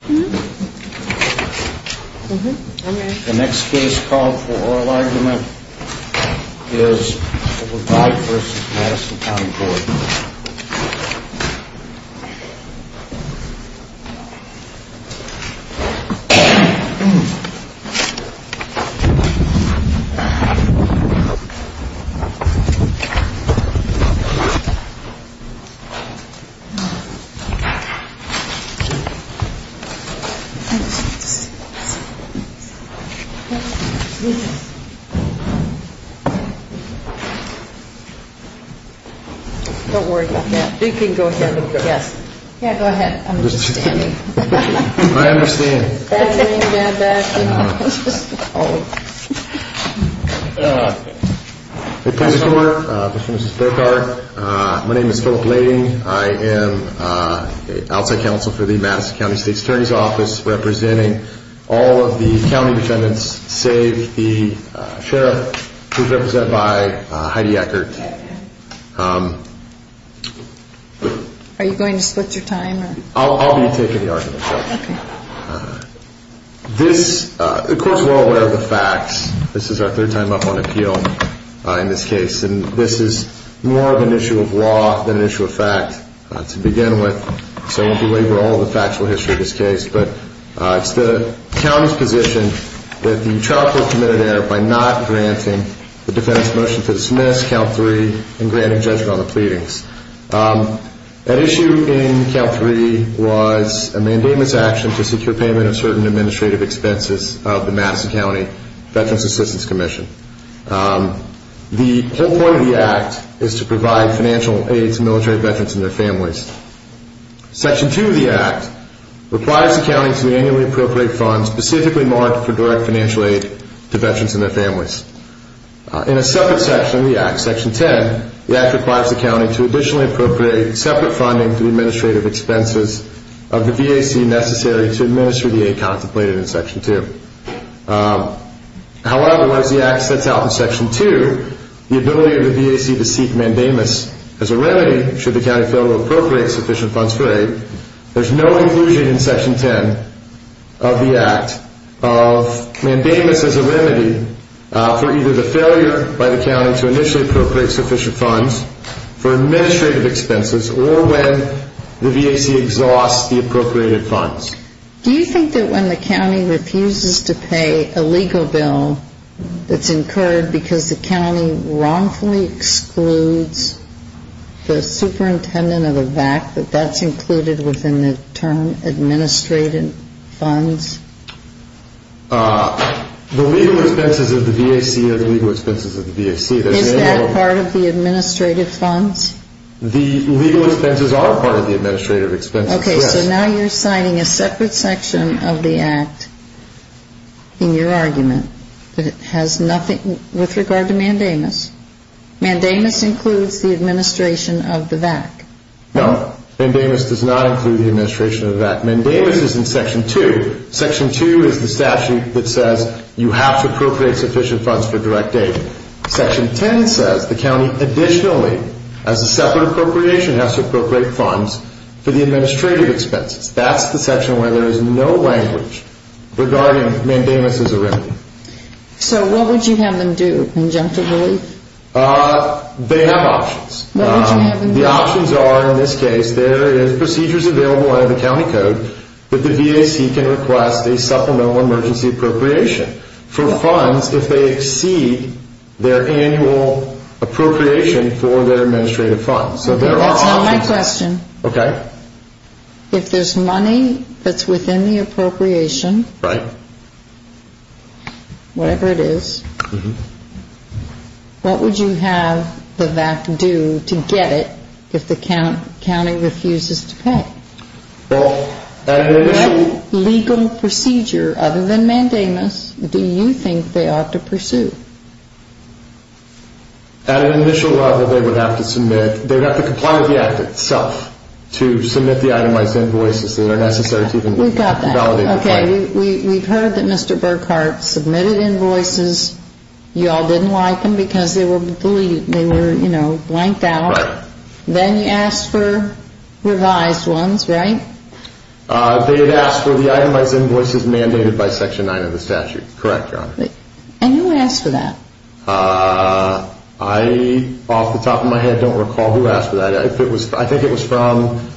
The next case called for oral argument is the Lavite v. Madison County Board I am outside counsel for the Madison County State's Attorney's Office and I am here to represent all of the county defendants, save the Sheriff, who is represented by Heidi Eckert. Are you going to split your time? I'll be taking the argument, Judge. This, of course, we're all aware of the facts. This is our third time up on appeal in this case. And this is more of an issue of law than an issue of fact to begin with, so I won't belabor all the factual history of this case. But it's the county's position that the trial court committed error by not granting the defendant's motion to dismiss, Count 3, and granting judgment on the pleadings. At issue in Count 3 was a mandamus action to secure payment of certain administrative expenses of the Madison County Veterans Assistance Commission. The whole point of the act is to provide financial aid to military veterans and their families. Section 2 of the act requires the county to annually appropriate funds specifically marked for direct financial aid to veterans and their families. In a separate section of the act, section 10, the act requires the county to additionally appropriate separate funding to the administrative expenses of the VAC necessary to administer the aid contemplated in section 2. However, as the act sets out in section 2, the ability of the VAC to seek mandamus as a remedy should the county fail to appropriate sufficient funds for aid, there's no inclusion in section 10 of the act of mandamus as a remedy for either the failure by the county to initially appropriate sufficient funds for administrative expenses or when the VAC exhausts the appropriated funds. Do you think that when the county refuses to pay a legal bill that's incurred because the county wrongfully excludes the superintendent of the VAC, that that's included within the term administrative funds? The legal expenses of the VAC are the legal expenses of the VAC. Is that part of the administrative funds? The legal expenses are part of the administrative expenses, yes. Okay, so now you're assigning a separate section of the act in your argument that has nothing with regard to mandamus. Mandamus includes the administration of the VAC. No, mandamus does not include the administration of the VAC. Mandamus is in section 2. Section 2 is the statute that says you have to appropriate sufficient funds for direct aid. Section 10 says the county additionally, as a separate appropriation, has to appropriate funds for the administrative expenses. That's the section where there is no language regarding mandamus as a remedy. So what would you have them do, conjunctively? They have options. What would you have them do? The options are, in this case, there is procedures available under the county code that the VAC can request a supplemental emergency appropriation for funds if they exceed their annual appropriation for their administrative funds. That's not my question. Okay. If there's money that's within the appropriation, whatever it is, what would you have the VAC do to get it if the county refuses to pay? Well, at an initial... What legal procedure, other than mandamus, do you think they ought to pursue? At an initial level, they would have to submit, they would have to comply with the act itself to submit the itemized invoices that are necessary to even validate the claim. We've got that. Okay. We've heard that Mr. Burkhart submitted invoices. You all didn't like them because they were, you know, blanked out. Right. Then you asked for revised ones, right? They had asked for the itemized invoices mandated by Section 9 of the statute. Correct, Your Honor. And who asked for that? I, off the top of my head, don't recall who asked for that. I think it was from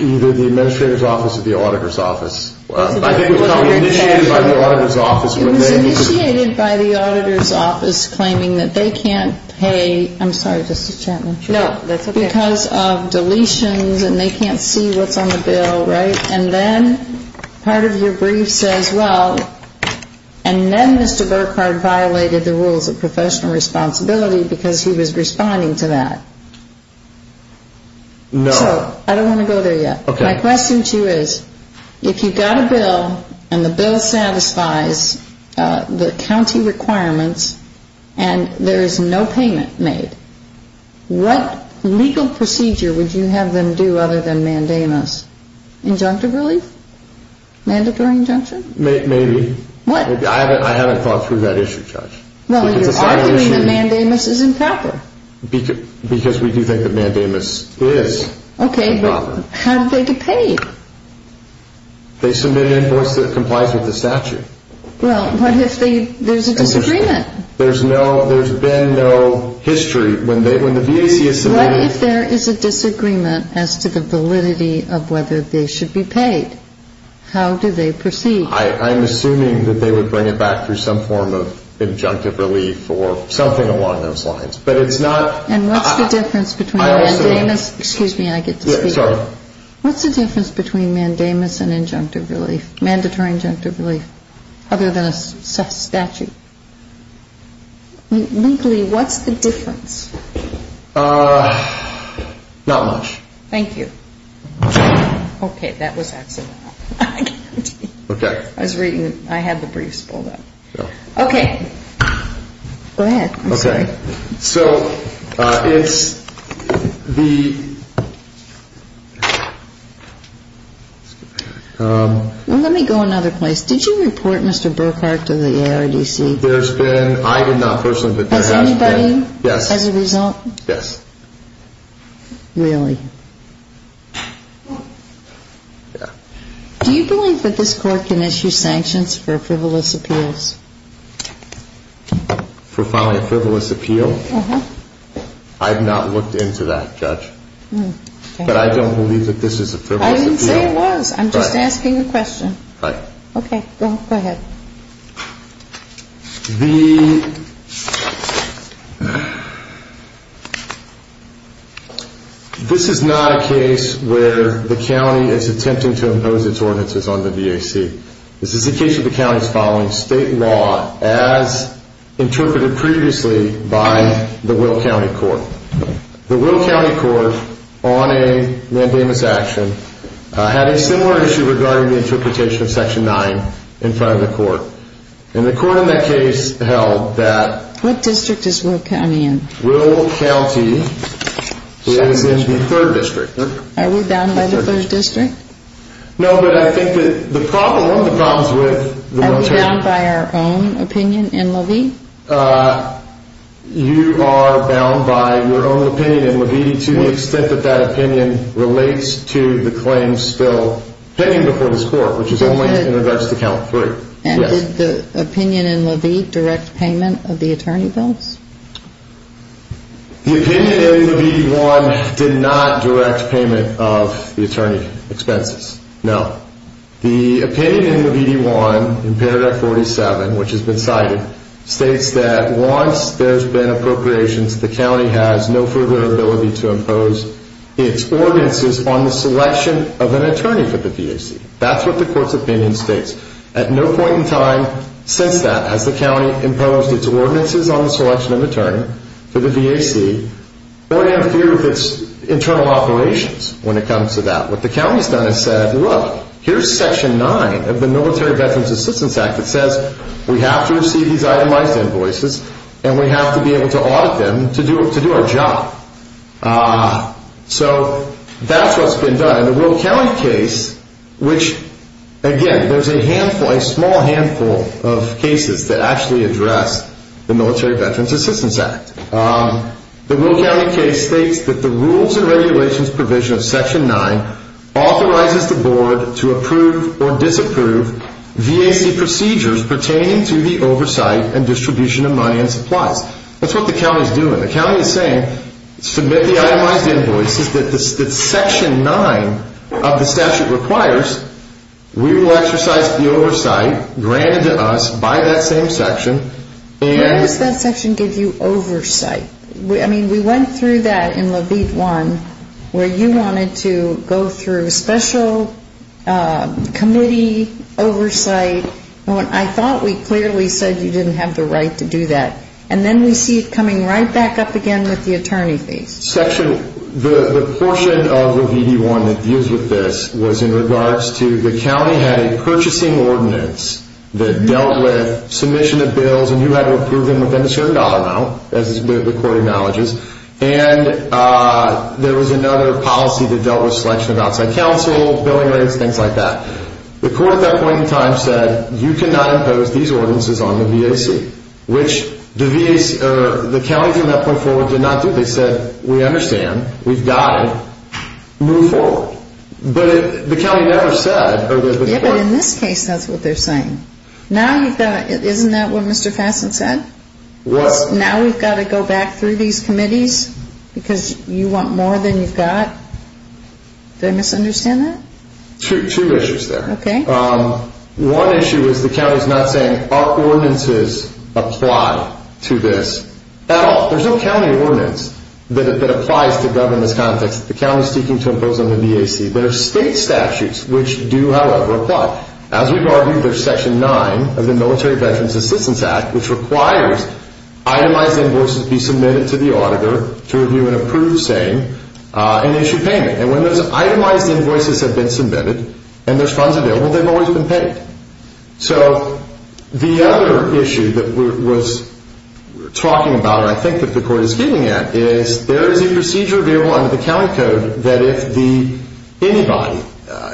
either the administrator's office or the auditor's office. I think it was initiated by the auditor's office. It was initiated by the auditor's office claiming that they can't pay. I'm sorry, Justice Chapman. No, that's okay. Because of deletions and they can't see what's on the bill, right? And then part of your brief says, well, and then Mr. Burkhart violated the rules of professional responsibility because he was responding to that. No. So I don't want to go there yet. Okay. My question to you is, if you've got a bill and the bill satisfies the county requirements and there is no payment made, what legal procedure would you have them do other than mandamus? Injunctive relief? Mandatory injunction? Maybe. What? I haven't thought through that issue, Judge. Well, you're arguing that mandamus isn't proper. Because we do think that mandamus is proper. Okay, but how did they get paid? They submit an invoice that complies with the statute. Well, what if there's a disagreement? There's been no history. What if there is a disagreement as to the validity of whether they should be paid? How do they proceed? I'm assuming that they would bring it back through some form of injunctive relief or something along those lines. And what's the difference between mandamus and injunctive relief? Mandatory injunctive relief. Other than a statute. Legally, what's the difference? Not much. Thank you. Okay, that was accidental. I was reading. I had the briefs pulled up. Okay. I'm sorry. Okay. So it's the... Let me go another place. Did you report Mr. Burkhart to the ARDC? There's been... I did not personally, but there has been... Has anybody? Yes. As a result? Yes. Really? Yeah. Do you believe that this Court can issue sanctions for frivolous appeals? For filing a frivolous appeal? Uh-huh. I have not looked into that, Judge. But I don't believe that this is a frivolous appeal. I didn't say it was. I'm just asking a question. Right. Okay. Go ahead. The... This is not a case where the county is attempting to impose its ordinances on the DAC. This is a case where the county is following state law as interpreted previously by the Will County Court. The Will County Court, on a mandamus action, had a similar issue regarding the interpretation of Section 9 in front of the Court. And the Court in that case held that... What district is Will County in? Will County is in the 3rd District. Are we bound by the 3rd District? No, but I think that the problem... one of the problems with... Are we bound by our own opinion in Levy? You are bound by your own opinion in Levy to the extent that that opinion relates to the claims still pending before this Court, which is only in regards to Count 3. And did the opinion in Levy direct payment of the attorney bills? The opinion in Levy 1 did not direct payment of the attorney expenses, no. The opinion in Levy 1, in Paragraph 47, which has been cited, states that once there's been appropriations, the county has no further ability to impose its ordinances on the selection of an attorney for the DAC. That's what the Court's opinion states. At no point in time since that has the county imposed its ordinances on the selection of an attorney for the DAC, nor have it interfered with its internal operations when it comes to that. What the county's done is said, look, here's Section 9 of the Military Veterans Assistance Act that says we have to receive these itemized invoices and we have to be able to audit them to do our job. So that's what's been done. In the Will County case, which, again, there's a handful, a small handful of cases that actually address the Military Veterans Assistance Act. The Will County case states that the rules and regulations provision of Section 9 authorizes the board to approve or disapprove VAC procedures pertaining to the oversight and distribution of money and supplies. That's what the county's doing. The county is saying submit the itemized invoices that Section 9 of the statute requires. We will exercise the oversight granted to us by that same section. Why does that section give you oversight? I mean, we went through that in Levite 1 where you wanted to go through special committee oversight. I thought we clearly said you didn't have the right to do that. And then we see it coming right back up again with the attorney fees. The portion of Levite 1 that deals with this was in regards to the county had a purchasing ordinance that dealt with submission of bills and you had to approve them within a certain dollar amount, as the court acknowledges. And there was another policy that dealt with selection of outside counsel, billing rates, things like that. The court at that point in time said you cannot impose these ordinances on the VAC, which the county from that point forward did not do. They said we understand, we've got it, move forward. But the county never said. Yeah, but in this case that's what they're saying. Now you've got to, isn't that what Mr. Fasson said? What? Now we've got to go back through these committees because you want more than you've got. Did I misunderstand that? Two issues there. Okay. One issue is the county's not saying our ordinances apply to this at all. There's no county ordinance that applies to government's context. The county is seeking to impose on the VAC. There are state statutes which do, however, apply. As we've argued, there's Section 9 of the Military Veterans Assistance Act, which requires itemized invoices be submitted to the auditor to review and approve, say, an issue payment. And when those itemized invoices have been submitted and there's funds available, they've always been paid. So the other issue that we're talking about, and I think that the Court is getting at, is there is a procedure available under the county code that if anybody,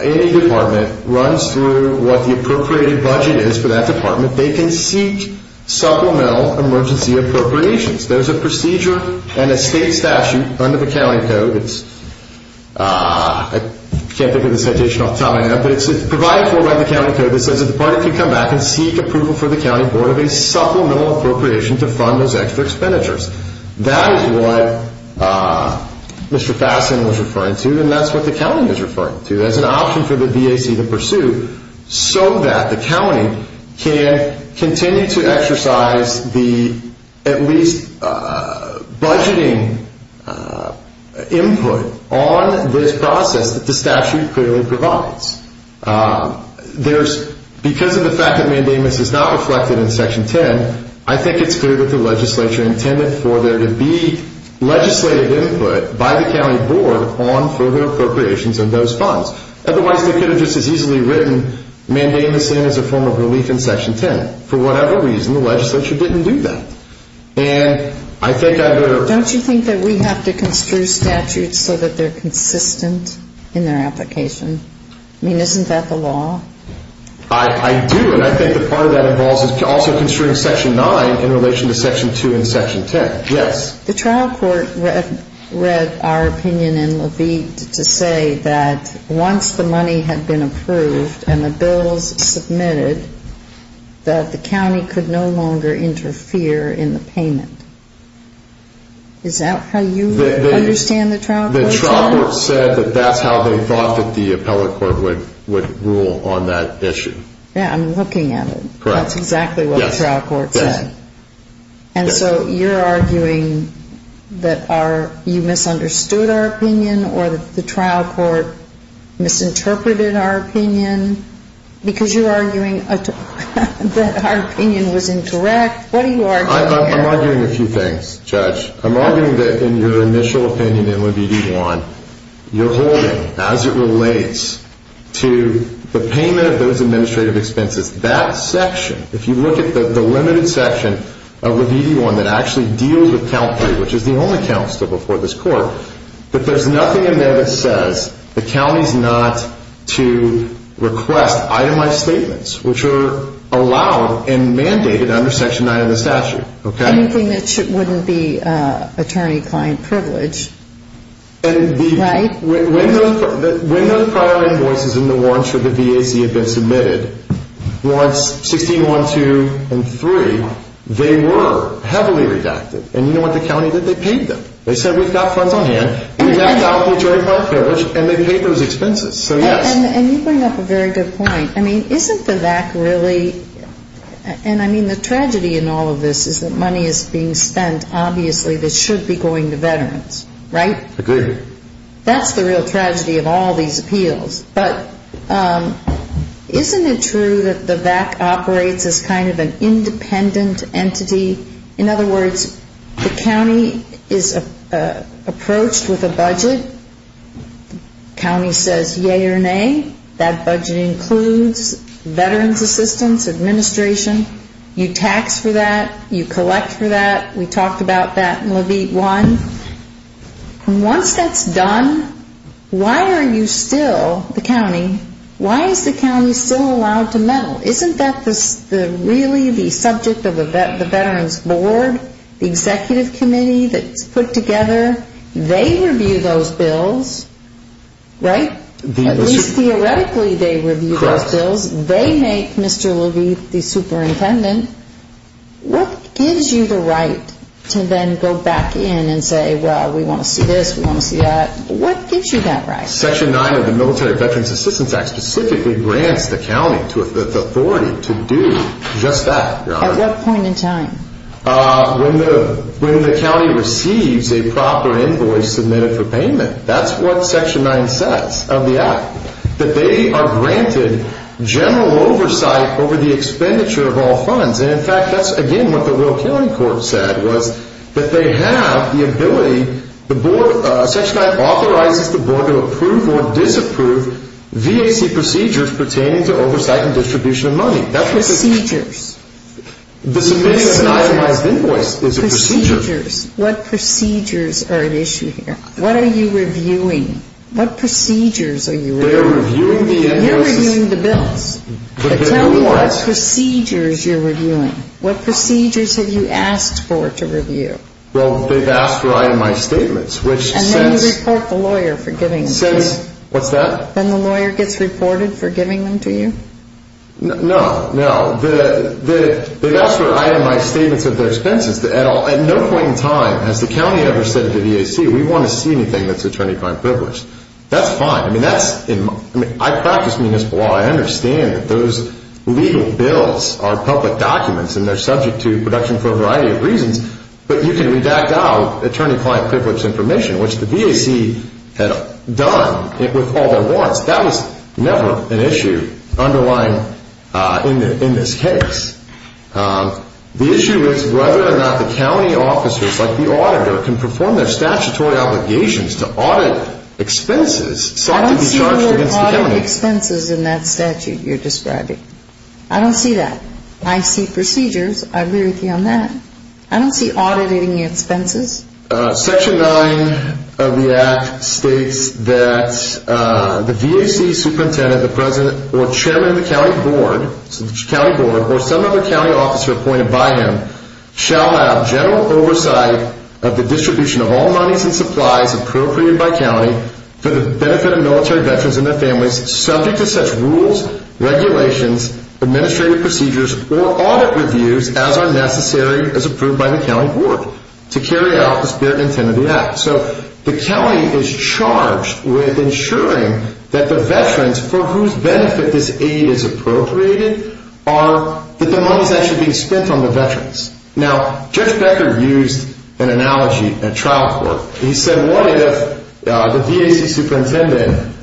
any department, runs through what the appropriated budget is for that department, they can seek supplemental emergency appropriations. There's a procedure and a state statute under the county code. I can't think of the citation off the top of my head, but it's provided for by the county code. It says that the department can come back and seek approval for the county board of a supplemental appropriation to fund those extra expenditures. That is what Mr. Fasten was referring to, and that's what the county is referring to. That's an option for the DAC to pursue so that the county can continue to exercise the at least budgeting input on this process that the statute clearly provides. Because of the fact that mandamus is not reflected in Section 10, I think it's clear that the legislature intended for there to be legislative input by the county board on further appropriations of those funds. Otherwise, they could have just as easily written mandamus in as a form of relief in Section 10. For whatever reason, the legislature didn't do that. Don't you think that we have to construe statutes so that they're consistent in their application? I mean, isn't that the law? I do, and I think that part of that involves also construing Section 9 in relation to Section 2 and Section 10. Yes. The trial court read our opinion in Levite to say that once the money had been approved and the bills submitted, that the county could no longer interfere in the payment. Is that how you understand the trial court's opinion? The trial court said that that's how they thought that the appellate court would rule on that issue. Yeah, I'm looking at it. Correct. That's exactly what the trial court said. And so you're arguing that you misunderstood our opinion or that the trial court misinterpreted our opinion because you're arguing that our opinion was incorrect? What are you arguing there? I'm arguing a few things, Judge. I'm arguing that in your initial opinion in Levite 1, you're holding as it relates to the payment of those administrative expenses. That section, if you look at the limited section of Levite 1 that actually deals with Count 3, which is the only count still before this court, that there's nothing in there that says the county's not to request itemized statements, which are allowed and mandated under Section 9 of the statute. Anything that wouldn't be attorney-client privilege. Right. When those prior invoices in the warrant for the VAC had been submitted, warrants 16-1, 2, and 3, they were heavily redacted. And you know what the county did? They paid them. They said, we've got funds on hand. We have to offer attorney-client privilege, and they paid those expenses. So, yes. And you bring up a very good point. I mean, isn't the VAC really, and I mean the tragedy in all of this is that money is being spent, obviously, that should be going to veterans. Right? Agreed. That's the real tragedy of all these appeals. But isn't it true that the VAC operates as kind of an independent entity? In other words, the county is approached with a budget. The county says, yea or nay, that budget includes veterans assistance, administration. You tax for that. You collect for that. We talked about that in Levite 1. And once that's done, why are you still, the county, why is the county still allowed to meddle? Isn't that really the subject of the veterans board, the executive committee that's put together? They review those bills, right? At least theoretically they review those bills. They make Mr. Levite the superintendent. What gives you the right to then go back in and say, well, we want to see this, we want to see that. What gives you that right? Section 9 of the Military Veterans Assistance Act specifically grants the county the authority to do just that, Your Honor. At what point in time? When the county receives a proper invoice submitted for payment. That's what Section 9 says of the act, that they are granted general oversight over the expenditure of all funds. And, in fact, that's, again, what the Royal County Court said was that they have the ability, the board, Section 9 authorizes the board to approve or disapprove VAC procedures pertaining to oversight and distribution of money. Procedures. The submission of an itemized invoice is a procedure. Procedures. What procedures are at issue here? What are you reviewing? What procedures are you reviewing? They're reviewing the invoices. You're reviewing the bills. Tell me what procedures you're reviewing. What procedures have you asked for to review? Well, they've asked for itemized statements. And then you report the lawyer for giving them to you. What's that? Then the lawyer gets reported for giving them to you? No. No. They've asked for itemized statements of their expenses. At no point in time has the county ever said to the VAC, we want to see anything that's attorney-crime privileged. That's fine. I practice municipal law. I understand that those legal bills are public documents and they're subject to production for a variety of reasons. But you can redact out attorney-client privileged information, which the VAC had done with all their warrants. That was never an issue underlying in this case. The issue is whether or not the county officers, like the auditor, can perform their statutory obligations to audit expenses. I don't see the word audit expenses in that statute you're describing. I don't see that. I see procedures. I agree with you on that. I don't see auditing expenses. Section 9 of the Act states that the VAC superintendent, the president, or chairman of the county board, or some other county officer appointed by him, shall have general oversight of the distribution of all monies and supplies appropriated by county for the benefit of military veterans and their families subject to such rules, regulations, administrative procedures, or audit reviews as are necessary as approved by the county board to carry out the spirit and intent of the Act. So the county is charged with ensuring that the veterans for whose benefit this aid is appropriated are that the money is actually being spent on the veterans. Now, Judge Becker used an analogy in a trial court. He said what if the VAC superintendent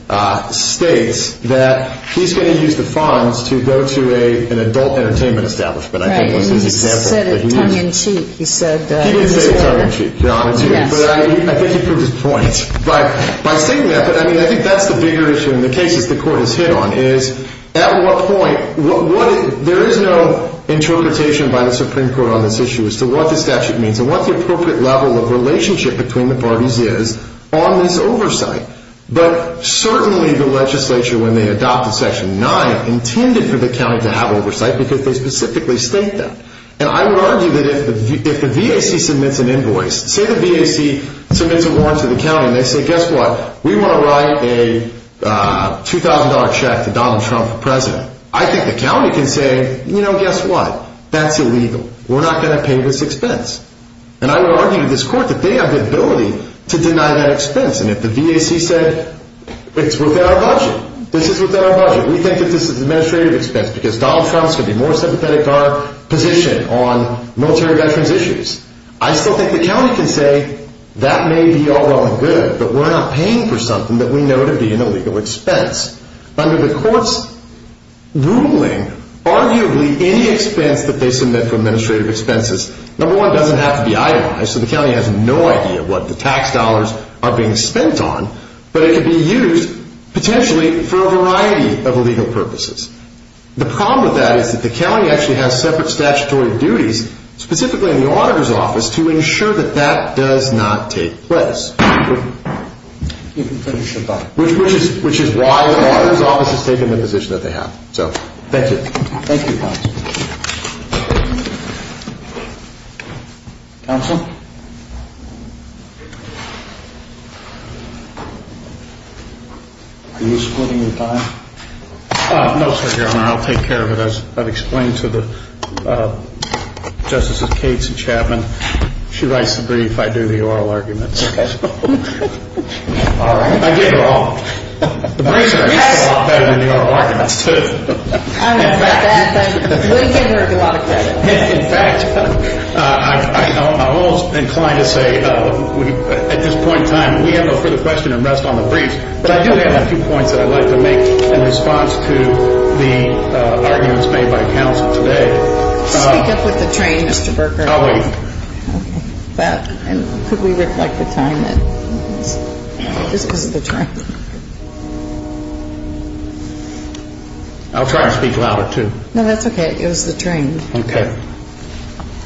states that he's going to use the funds to go to an adult entertainment establishment. Right. He said it tongue-in-cheek. He didn't say it tongue-in-cheek. I think he proved his point. I think that's the bigger issue in the cases the court has hit on is at what point, there is no interpretation by the Supreme Court on this issue as to what the statute means and what the appropriate level of relationship between the parties is on this oversight. But certainly the legislature, when they adopted Section 9, intended for the county to have oversight because they specifically state that. And I would argue that if the VAC submits an invoice, say the VAC submits a warrant to the county and they say, guess what? We want to write a $2,000 check to Donald Trump for president. I think the county can say, you know, guess what? That's illegal. We're not going to pay this expense. And I would argue to this court that they have the ability to deny that expense. And if the VAC said, it's within our budget. This is within our budget. We think that this is an administrative expense because Donald Trump is going to be more sympathetic to our position on military veterans' issues. I still think the county can say, that may be all well and good, but we're not paying for something that we know to be an illegal expense. Under the court's ruling, arguably any expense that they submit for administrative expenses, number one, doesn't have to be itemized. So the county has no idea what the tax dollars are being spent on, but it can be used potentially for a variety of illegal purposes. The problem with that is that the county actually has separate statutory duties, specifically in the auditor's office, to ensure that that does not take place. Which is why the auditor's office has taken the position that they have. Thank you, counsel. Counsel? Are you splitting your time? No, sir, Your Honor. I'll take care of it. I've explained to the Justices Cates and Chapman. She writes the brief. I do the oral arguments. Okay. All right. I get it all. The brief is a lot better than the oral arguments, too. We can work a lot of credit. In fact, I'm almost inclined to say, at this point in time, we have no further question and rest on the brief. But I do have a few points that I'd like to make in response to the arguments made by counsel today. Speak up with the train, Mr. Berger. I'll wait. Could we reflect the time? This is the train. I'll try to speak louder, too. No, that's okay. It was the train. Okay.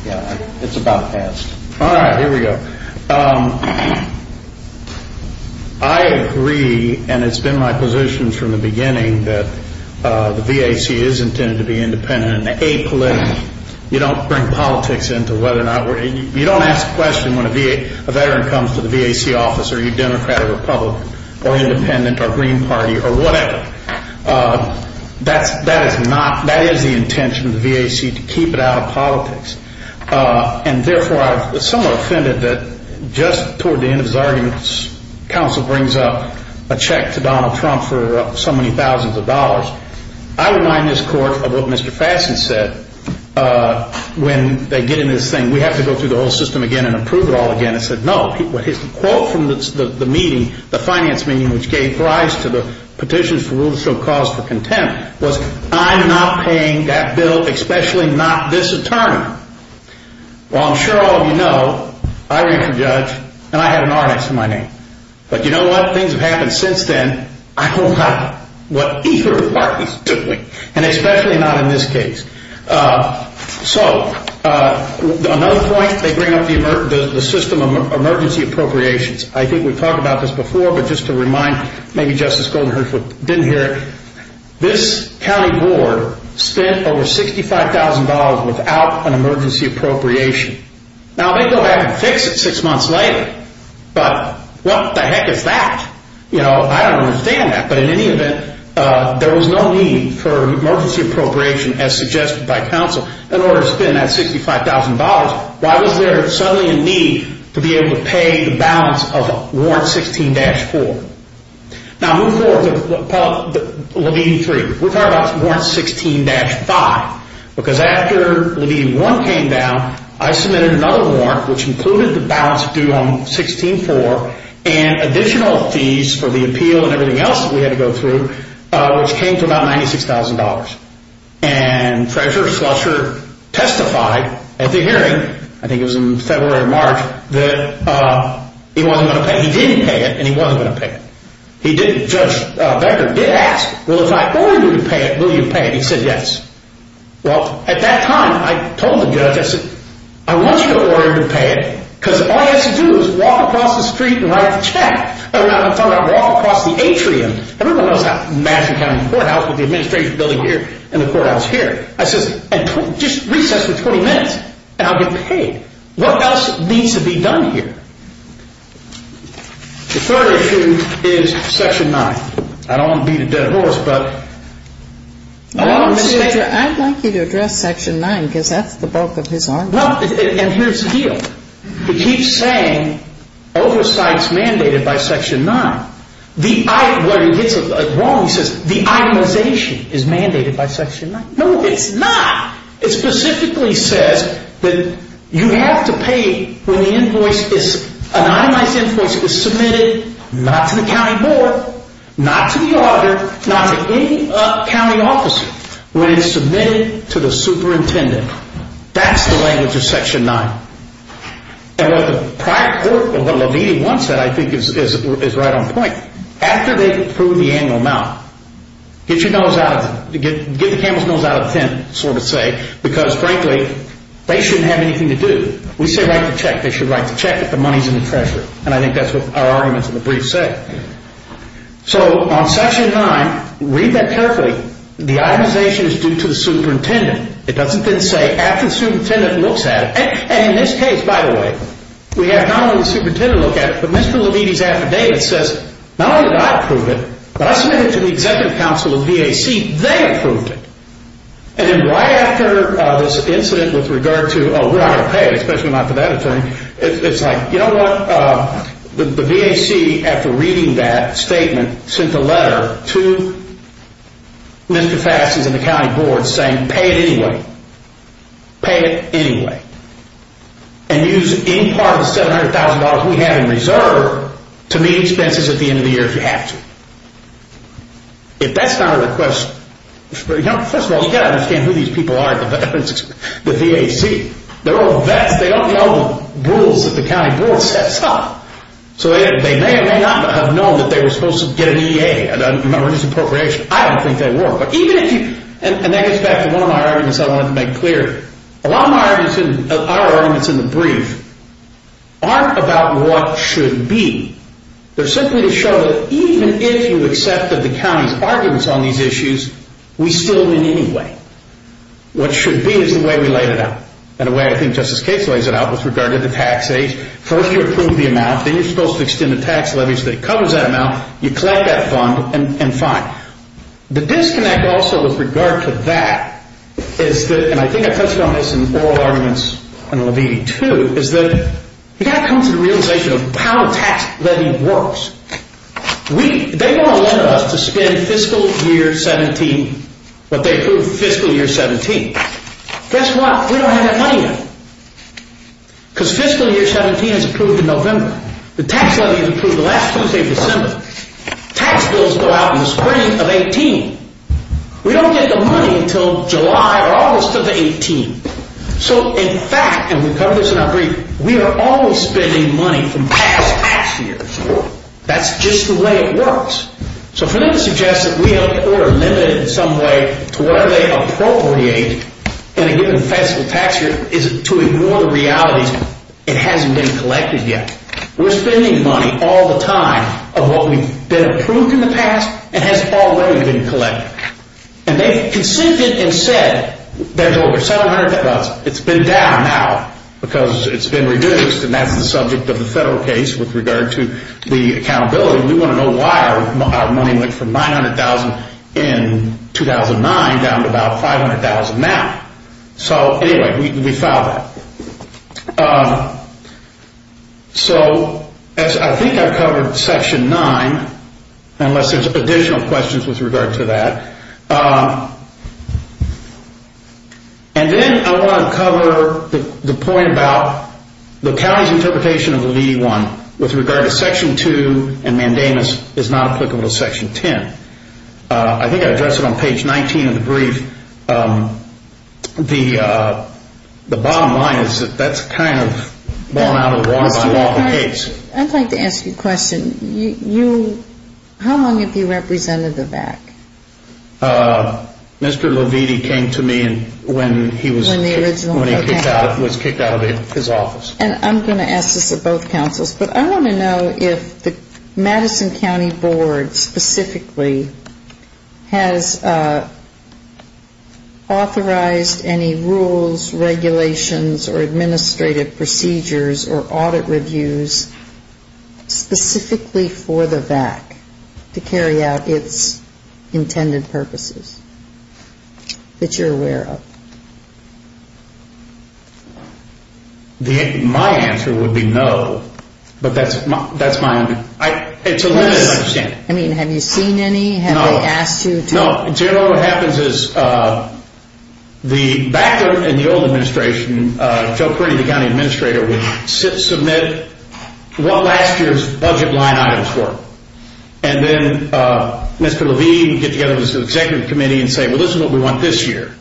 Yeah. It's about past. All right. Here we go. I agree, and it's been my position from the beginning, that the VAC is intended to be independent and apolitical. You don't bring politics into whether or not we're – you don't ask a question when a veteran comes to the VAC office, are you Democrat or Republican or independent or Green Party or whatever. That is not – that is the intention of the VAC, to keep it out of politics. And, therefore, I'm somewhat offended that just toward the end of his arguments, counsel brings up a check to Donald Trump for so many thousands of dollars. I remind this Court of what Mr. Fasson said when they get into this thing. We have to go through the whole system again and approve it all again. I said, no. His quote from the meeting, the finance meeting, which gave rise to the petitions for rules to show cause for contempt, was, I'm not paying that bill, especially not this attorney. Well, I'm sure all of you know, I ran for judge and I had an artist in my name. But you know what? Things have happened since then. I don't like what either of the parties is doing, and especially not in this case. So, another point, they bring up the system of emergency appropriations. I think we talked about this before, but just to remind, maybe Justice Goldenhurst didn't hear it. This county board spent over $65,000 without an emergency appropriation. Now, they go back and fix it six months later, but what the heck is that? You know, I don't understand that. But in any event, there was no need for emergency appropriation, as suggested by counsel, in order to spend that $65,000. Why was there suddenly a need to be able to pay the balance of Warrant 16-4? Now, move forward to Levine 3. We're talking about Warrant 16-5. Because after Levine 1 came down, I submitted another warrant, which included the balance due on 16-4 and additional fees for the appeal and everything else that we had to go through, which came to about $96,000. And Treasurer Slusher testified at the hearing, I think it was in February or March, that he wasn't going to pay. He didn't pay it, and he wasn't going to pay it. Judge Becker did ask, well, if I order you to pay it, will you pay it? He said yes. Well, at that time, I told the judge, I said, I want you to order me to pay it, because all he has to do is walk across the street and write a check. I found out, walk across the atrium. Everyone knows how Massachusetts County Courthouse with the administration building here and the courthouse here. I said, just recess for 20 minutes, and I'll get paid. What else needs to be done here? The third issue is Section 9. I don't want to beat a dead horse, but I want to make sure. I'd like you to address Section 9, because that's the bulk of his argument. Well, and here's the deal. He keeps saying oversight's mandated by Section 9. When he gets it wrong, he says the itemization is mandated by Section 9. No, it's not. It specifically says that you have to pay when the invoice is, an itemized invoice is submitted, not to the county board, not to the auditor, not to any county officer, when it's submitted to the superintendent. That's the language of Section 9. And what the prior court, what Levine once said, I think is right on point. After they approve the annual amount, get your nose out, get the camel's nose out of the tent, sort of say, because, frankly, they shouldn't have anything to do. We say write the check. They should write the check if the money's in the treasury, and I think that's what our arguments in the brief say. So on Section 9, read that carefully. The itemization is due to the superintendent. It doesn't then say after the superintendent looks at it. And in this case, by the way, we have not only the superintendent look at it, but Mr. Levine's affidavit says, not only did I approve it, but I submitted it to the Executive Council of the VAC. They approved it. And then right after this incident with regard to, oh, we're not going to pay it, especially not for that attorney, it's like, you know what? The VAC, after reading that statement, sent a letter to Mr. Faddis and the county board saying pay it anyway, pay it anyway, and use any part of the $700,000 we have in reserve to meet expenses at the end of the year if you have to. If that's not a request, you know, first of all, you've got to understand who these people are at the VAC. They're all vets. They don't know the rules that the county board sets up. So they may or may not have known that they were supposed to get an EA or an appropriation. I don't think they were. And that gets back to one of my arguments I wanted to make clear. A lot of our arguments in the brief aren't about what should be. They're simply to show that even if you accepted the county's arguments on these issues, we still win anyway. What should be is the way we laid it out, and the way I think Justice Case lays it out with regard to the tax aid. First you approve the amount. Then you're supposed to extend the tax levy so that it covers that amount. You collect that fund and fine. The disconnect also with regard to that is that, and I think I touched on this in oral arguments in Levine too, is that you've got to come to the realization of how the tax levy works. They don't want us to spend fiscal year 17 what they approved fiscal year 17. Guess what? We don't have that money yet because fiscal year 17 is approved in November. The tax levy is approved the last Tuesday of December. Tax bills go out in the spring of 18. We don't get the money until July or August of 18. So in fact, and we covered this in our brief, we are always spending money from past tax years. That's just the way it works. So for them to suggest that we have the order limited in some way to whatever they appropriate in a given fiscal tax year is to ignore the reality that it hasn't been collected yet. We're spending money all the time of what we've been approved in the past and has already been collected. And they've consented and said there's over $700,000. It's been down now because it's been reduced, and that's the subject of the federal case with regard to the accountability. We want to know why our money went from $900,000 in 2009 down to about $500,000 now. So anyway, we found that. So I think I covered Section 9, unless there's additional questions with regard to that. And then I want to cover the point about the county's interpretation of the Levy 1 with regard to Section 2 and mandamus is not applicable to Section 10. I think I addressed it on page 19 of the brief. The bottom line is that that's kind of borne out of the water by Walter Gates. I'd like to ask you a question. How long have you represented the VAC? Mr. Leviti came to me when he was kicked out of his office. And I'm going to ask this of both councils, but I want to know if the Madison County Board specifically has authorized any rules, regulations, or administrative procedures or audit reviews specifically for the VAC to carry out its intended purposes that you're aware of. My answer would be no, but that's my understanding. I mean, have you seen any? No. Have they asked you to? No. In general, what happens is the VAC and the old administration, Joe Kearney, the county administrator, would submit what last year's budget line items were. And then Mr. Leviti would get together with the executive committee and say, well, this is what we want this year.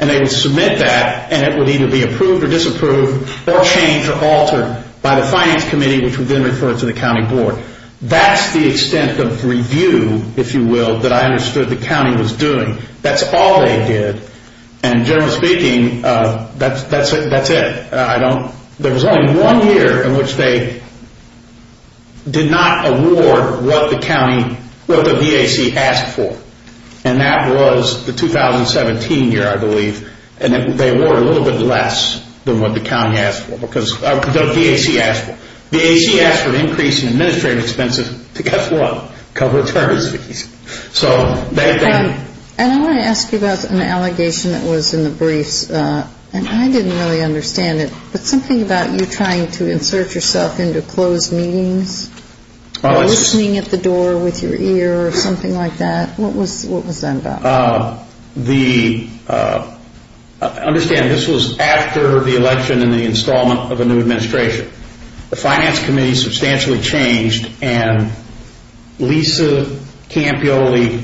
And they would submit that, and it would either be approved or disapproved or changed or altered by the finance committee, which would then refer it to the county board. That's the extent of review, if you will, that I understood the county was doing. That's all they did. And generally speaking, that's it. There was only one year in which they did not award what the VAC asked for, and that was the 2017 year, I believe. And they award a little bit less than what the VAC asked for. The VAC asked for an increase in administrative expenses to, guess what, cover attorneys fees. And I want to ask you about an allegation that was in the briefs, and I didn't really understand it, but something about you trying to insert yourself into closed meetings or listening at the door with your ear or something like that. What was that about? Understand, this was after the election and the installment of a new administration. The finance committee substantially changed, and Lisa Campioli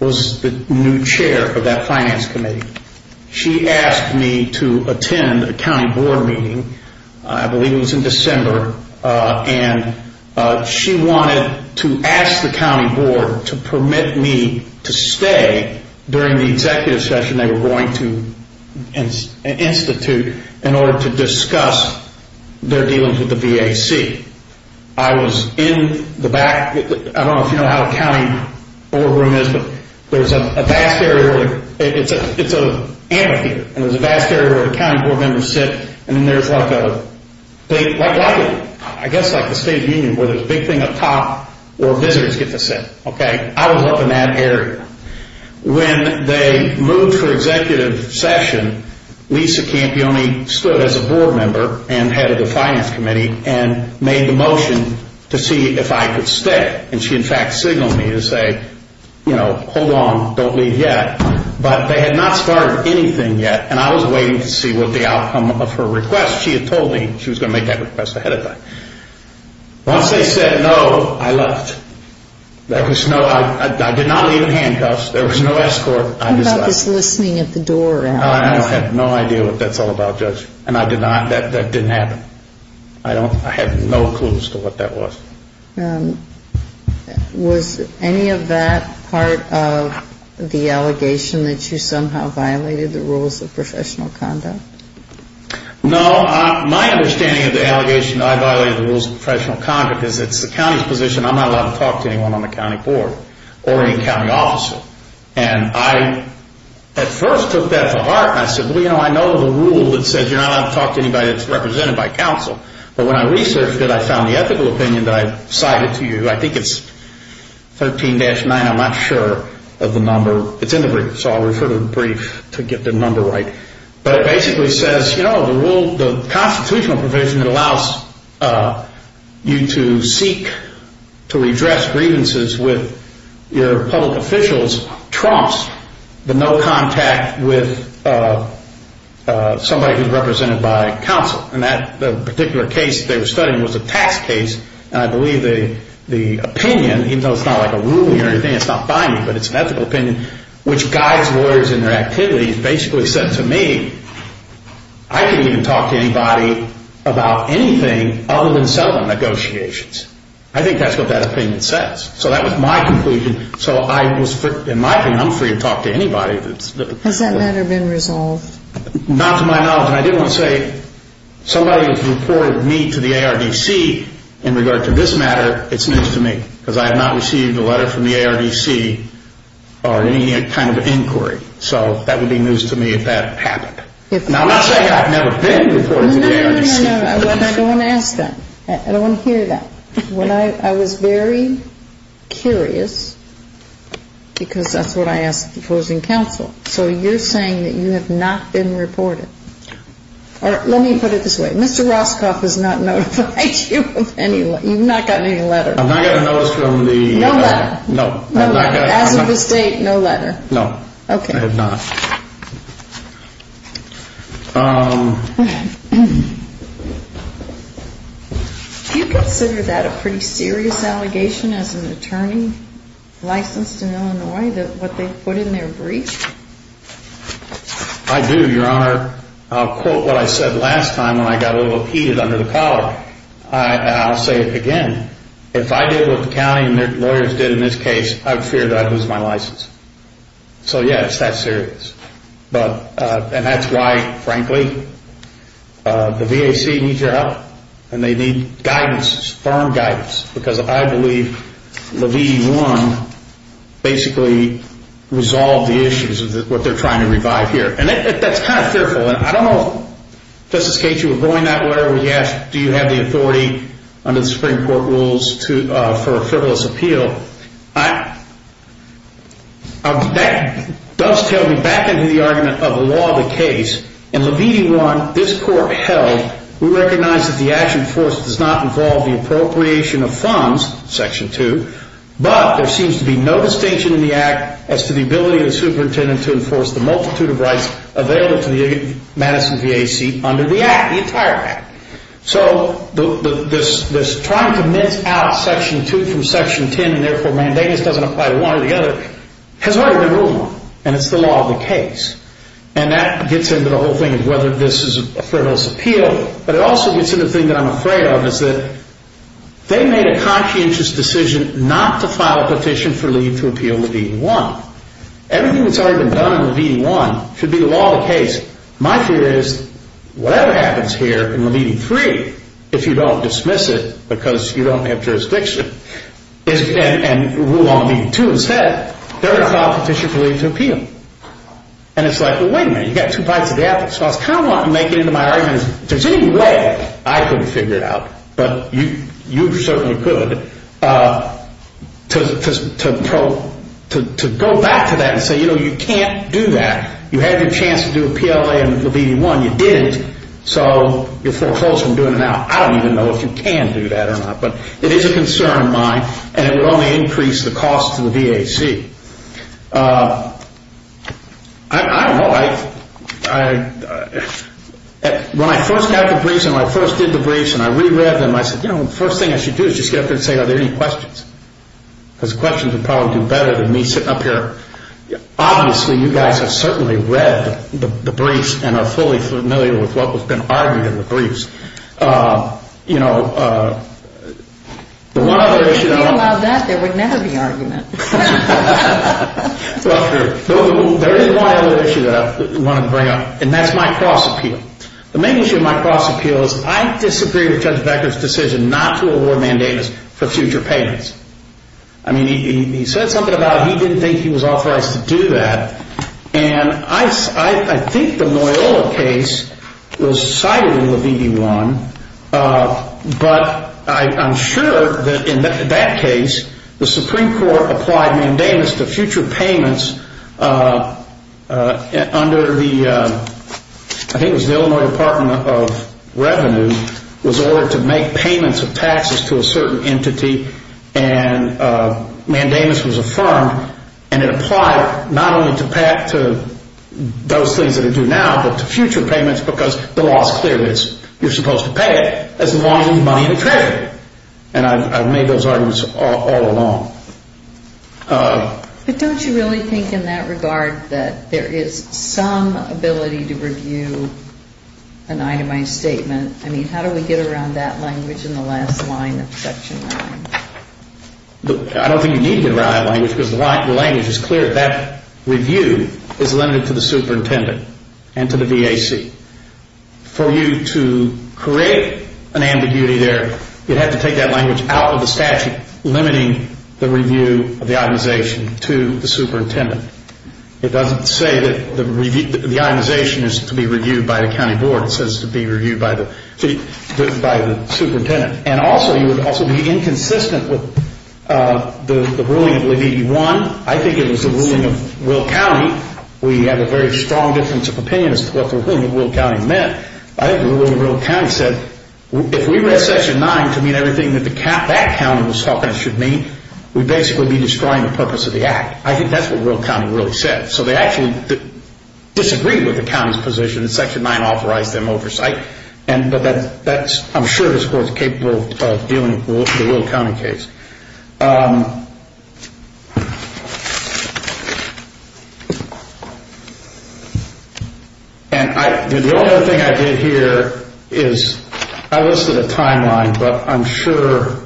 was the new chair of that finance committee. She asked me to attend a county board meeting, I believe it was in December, and she wanted to ask the county board to permit me to stay during the executive session they were going to institute in order to discuss their dealings with the VAC. I was in the back. I don't know if you know how a county board room is, but there's a vast area where it's an amphitheater, and there's a vast area where the county board members sit, and then there's like the state union where there's a big thing up top where visitors get to sit. I was up in that area. When they moved for executive session, Lisa Campioli stood as a board member and head of the finance committee and made the motion to see if I could stay, and she in fact signaled me to say, you know, hold on, don't leave yet. But they had not started anything yet, and I was waiting to see what the outcome of her request. She had told me she was going to make that request ahead of time. Once they said no, I left. I did not leave in handcuffs. There was no escort. What about this listening at the door? I have no idea what that's all about, Judge, and that didn't happen. I have no clues to what that was. Was any of that part of the allegation that you somehow violated the rules of professional conduct? No. My understanding of the allegation that I violated the rules of professional conduct is it's the county's position. I'm not allowed to talk to anyone on the county board or any county officer. And I at first took that to heart, and I said, well, you know, I know the rule that says you're not allowed to talk to anybody that's represented by counsel, but when I researched it, I found the ethical opinion that I cited to you. I think it's 13-9. I'm not sure of the number. It's in the brief, so I'll refer to the brief to get the number right. But it basically says, you know, the constitutional provision that allows you to seek to redress grievances with your public officials trumps the no contact with somebody who's represented by counsel. And that particular case they were studying was a tax case, and I believe the opinion, even though it's not like a ruling or anything, it's not by me, but it's an ethical opinion, which guides lawyers in their activities basically said to me, I can't even talk to anybody about anything other than settlement negotiations. I think that's what that opinion says. So that was my conclusion. So I was, in my opinion, I'm free to talk to anybody. Has that matter been resolved? Not to my knowledge. And I didn't want to say somebody has reported me to the ARDC in regard to this matter. It's news to me because I have not received a letter from the ARDC or any kind of inquiry. So that would be news to me if that happened. And I'm not saying I've never been reported to the ARDC. No, no, no. I don't want to ask that. I don't want to hear that. I was very curious because that's what I asked the opposing counsel. So you're saying that you have not been reported. No. Let me put it this way. Mr. Roscoff has not notified you of any, you've not gotten any letter. I've not gotten a notice from the... No letter. No. As of this date, no letter. No. Okay. I have not. Do you consider that a pretty serious allegation as an attorney licensed in Illinois, what they put in their brief? I do, Your Honor. I'll quote what I said last time when I got a little heated under the collar. And I'll say it again. If I did what the county and their lawyers did in this case, I'd fear that I'd lose my license. So, yeah, it's that serious. And that's why, frankly, the VAC needs your help. And they need guidance, firm guidance. Because I believe Levity 1 basically resolved the issues of what they're trying to revive here. And that's kind of fearful. And I don't know if, Justice Cage, you were going that way or whether you have the authority under the Supreme Court rules for a frivolous appeal. That does tell me back into the argument of the law of the case. In Levity 1, this court held, we recognize that the action enforced does not involve the appropriation of funds, Section 2, but there seems to be no distinction in the Act as to the ability of the superintendent to enforce the multitude of rights available to the Madison VAC under the Act, the entire Act. So this trying to mince out Section 2 from Section 10 and therefore mandating this doesn't apply to one or the other has already been ruled on. And it's the law of the case. And that gets into the whole thing of whether this is a frivolous appeal. But it also gets into the thing that I'm afraid of is that they made a conscientious decision not to file a petition for leave to appeal Levity 1. Everything that's already been done in Levity 1 should be the law of the case. My theory is whatever happens here in Levity 3, if you don't dismiss it because you don't have jurisdiction and rule on Levity 2 instead, they're going to file a petition for leave to appeal. And it's like, well, wait a minute. You've got two bites of the apple. So I kind of want to make it into my argument is if there's any way I could figure it out, but you certainly could, to go back to that and say, you know, you can't do that. You had your chance to do appeal in Levity 1. You didn't. So you're four holes from doing it now. I don't even know if you can do that or not. But it is a concern of mine, and it would only increase the cost to the VAC. I don't know. When I first got the briefs and I first did the briefs and I reread them, I said, you know, the first thing I should do is just get up there and say, are there any questions? Because questions would probably do better than me sitting up here. Obviously, you guys have certainly read the briefs and are fully familiar with what has been argued in the briefs. You know, the one other issue that I want to bring up, and that's my cross-appeal. The main issue of my cross-appeal is I disagree with Judge Becker's decision not to award mandates for future payments. I mean, he said something about he didn't think he was authorized to do that. And I think the Loyola case was cited in the V.E.1. But I'm sure that in that case, the Supreme Court applied mandamus to future payments under the, I think it was the Illinois Department of Revenue, was ordered to make payments of taxes to a certain entity. And mandamus was affirmed and it applied not only to those things that are due now, but to future payments because the law is clear. You're supposed to pay it as long as it's money in the treasury. And I've made those arguments all along. But don't you really think in that regard that there is some ability to review an itemized statement? I mean, how do we get around that language in the last line of Section 9? I don't think you need to get around that language because the language is clear. That review is limited to the superintendent and to the V.A.C. For you to create an ambiguity there, you'd have to take that language out of the statute limiting the review of the itemization to the superintendent. It doesn't say that the itemization is to be reviewed by the county board. It says to be reviewed by the superintendent. And also, you would also be inconsistent with the ruling of AB1. I think it was the ruling of Will County. We have a very strong difference of opinion as to what the ruling of Will County meant. I think the ruling of Will County said if we read Section 9 to mean everything that that county was talking it should mean, we'd basically be destroying the purpose of the act. I think that's what Will County really said. So they actually disagreed with the county's position and Section 9 authorized them oversight. But I'm sure this Court is capable of dealing with the Will County case. The only other thing I did here is I listed a timeline, but I'm sure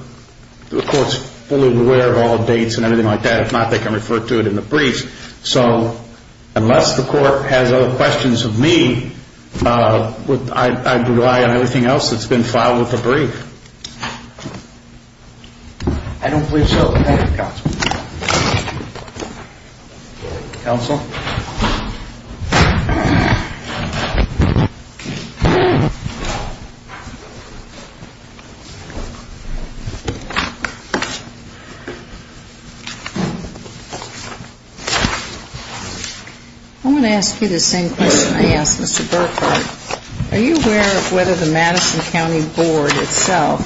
the Court is fully aware of all the dates and everything like that. If not, they can refer to it in the brief. So unless the Court has other questions of me, I'd rely on everything else that's been filed with the brief. I don't believe so. Thank you, Counsel. Counsel? I want to ask you the same question I asked Mr. Burkhart. Are you aware of whether the Madison County Board itself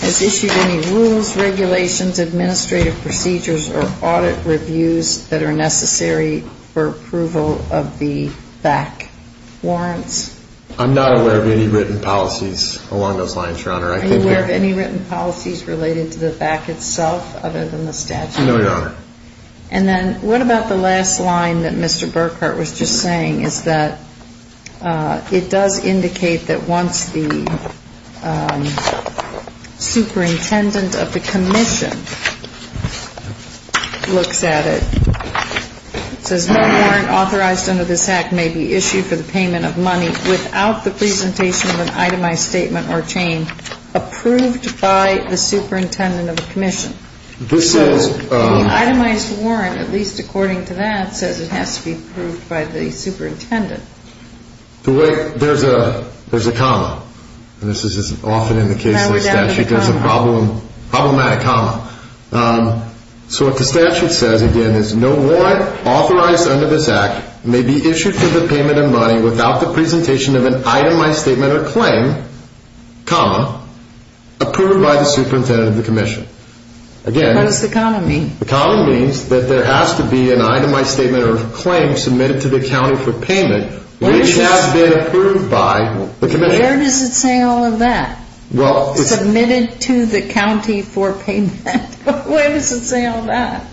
has issued any rules, regulations, administrative procedures, or audit reviews that are necessary for approval of the BAC warrants? I'm not aware of any written policies along those lines, Your Honor. Are you aware of any written policies related to the BAC itself other than the statute? No, Your Honor. And then what about the last line that Mr. Burkhart was just saying, is that it does indicate that once the superintendent of the commission looks at it, it says no warrant authorized under this Act may be issued for the payment of money without the presentation of an itemized statement or chain approved by the superintendent of the commission. So the itemized warrant, at least according to that, says it has to be approved by the superintendent. There's a comma, and this is often in the case of the statute, there's a problematic comma. So what the statute says, again, is no warrant authorized under this Act may be issued for the payment of money without the presentation of an itemized statement or claim, comma, approved by the superintendent of the commission. What does the comma mean? The comma means that there has to be an itemized statement or claim submitted to the county for payment, which has been approved by the commission. Where does it say all of that? Submitted to the county for payment. Where does it say all that?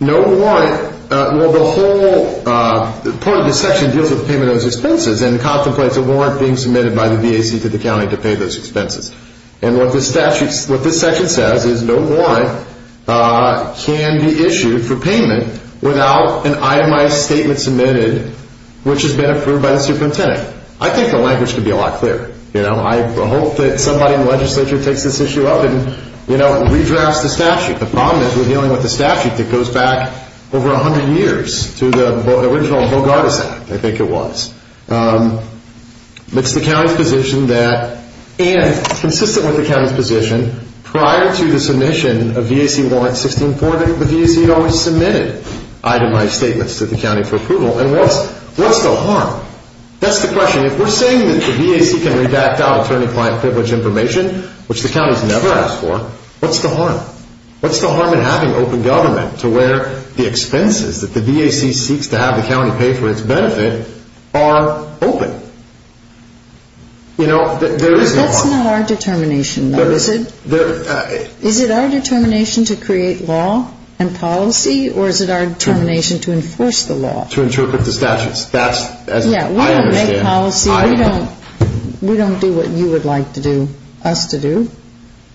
No warrant, well, the whole part of the section deals with payment of expenses and contemplates a warrant being submitted by the BAC to the county to pay those expenses. And what this section says is no warrant can be issued for payment without an itemized statement submitted, which has been approved by the superintendent. I think the language could be a lot clearer. I hope that somebody in the legislature takes this issue up and redrafts the statute. The problem is we're dealing with a statute that goes back over 100 years to the original Bogartis Act, I think it was. It's the county's position that, and consistent with the county's position, prior to the submission of VAC Warrant 1640, the VAC had always submitted itemized statements to the county for approval. And what's the harm? That's the question. If we're saying that the VAC can redact out attorney-client privilege information, which the county's never asked for, what's the harm? What's the harm in having open government to where the expenses that the VAC seeks to have the county pay for its benefit are open? You know, there is no harm. That's not our determination, though. Is it our determination to create law and policy, or is it our determination to enforce the law? To interpret the statutes. Yeah, we don't make policy. We don't do what you would like us to do.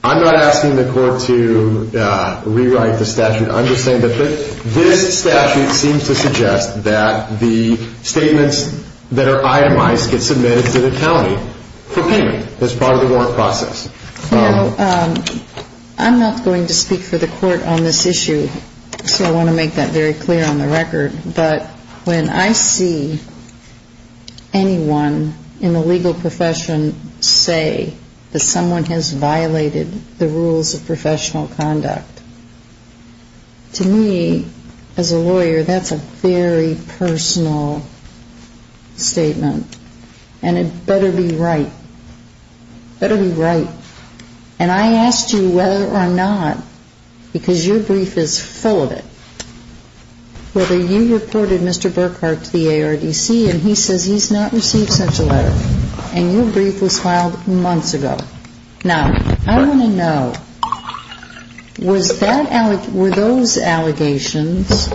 I'm not asking the court to rewrite the statute. I'm just saying that this statute seems to suggest that the statements that are itemized get submitted to the county for payment. That's part of the warrant process. Now, I'm not going to speak for the court on this issue, so I want to make that very clear on the record. But when I see anyone in the legal profession say that someone has violated the rules of professional conduct, to me, as a lawyer, that's a very personal statement. And it better be right. Better be right. And I asked you whether or not, because your brief is full of it, whether you reported Mr. Burkhart to the ARDC, and he says he's not received such a letter. And your brief was filed months ago. Now, I want to know, were those allegations,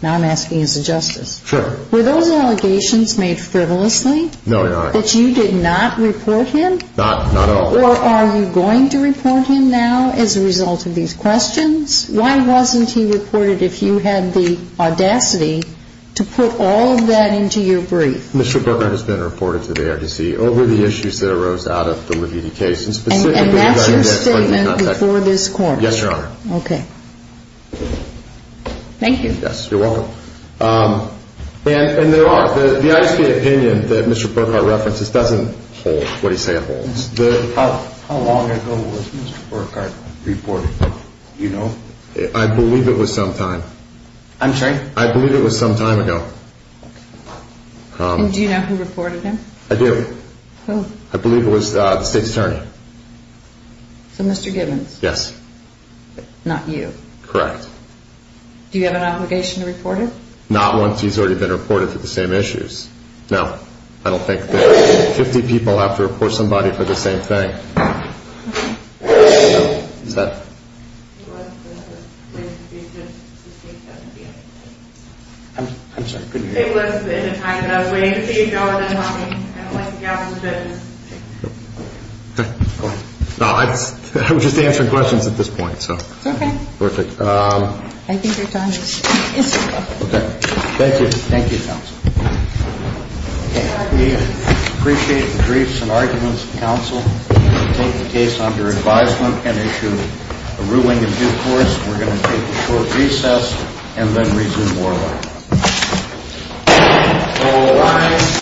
now I'm asking as a justice. Sure. Were those allegations made frivolously? No, Your Honor. That you did not report him? Not at all. Or are you going to report him now as a result of these questions? Why wasn't he reported if you had the audacity to put all of that into your brief? Mr. Burkhart has been reported to the ARDC over the issues that arose out of the Leviti case. And that's your statement before this court? Yes, Your Honor. Okay. Thank you. Yes, you're welcome. And there are. The ISD opinion that Mr. Burkhart references doesn't hold what he says it holds. How long ago was Mr. Burkhart reported? Do you know? I believe it was some time. I'm sorry? I believe it was some time ago. And do you know who reported him? I do. Who? I believe it was the state's attorney. So Mr. Gibbons? Yes. Not you? Correct. Do you have an obligation to report him? Not once he's already been reported for the same issues. Now, I don't think that 50 people have to report somebody for the same thing. Is that? It was the state's attorney. I'm sorry, could you repeat that? It was the state's attorney. I don't like to get out of the business. Okay. I'm just answering questions at this point, so. Okay. Perfect. I think your time is up. Okay. Thank you. Thank you, counsel. Okay. We appreciate the briefs and arguments of counsel. We're going to take the case under advisement and issue a ruling in due course. We're going to take a short recess and then resume oral. So I.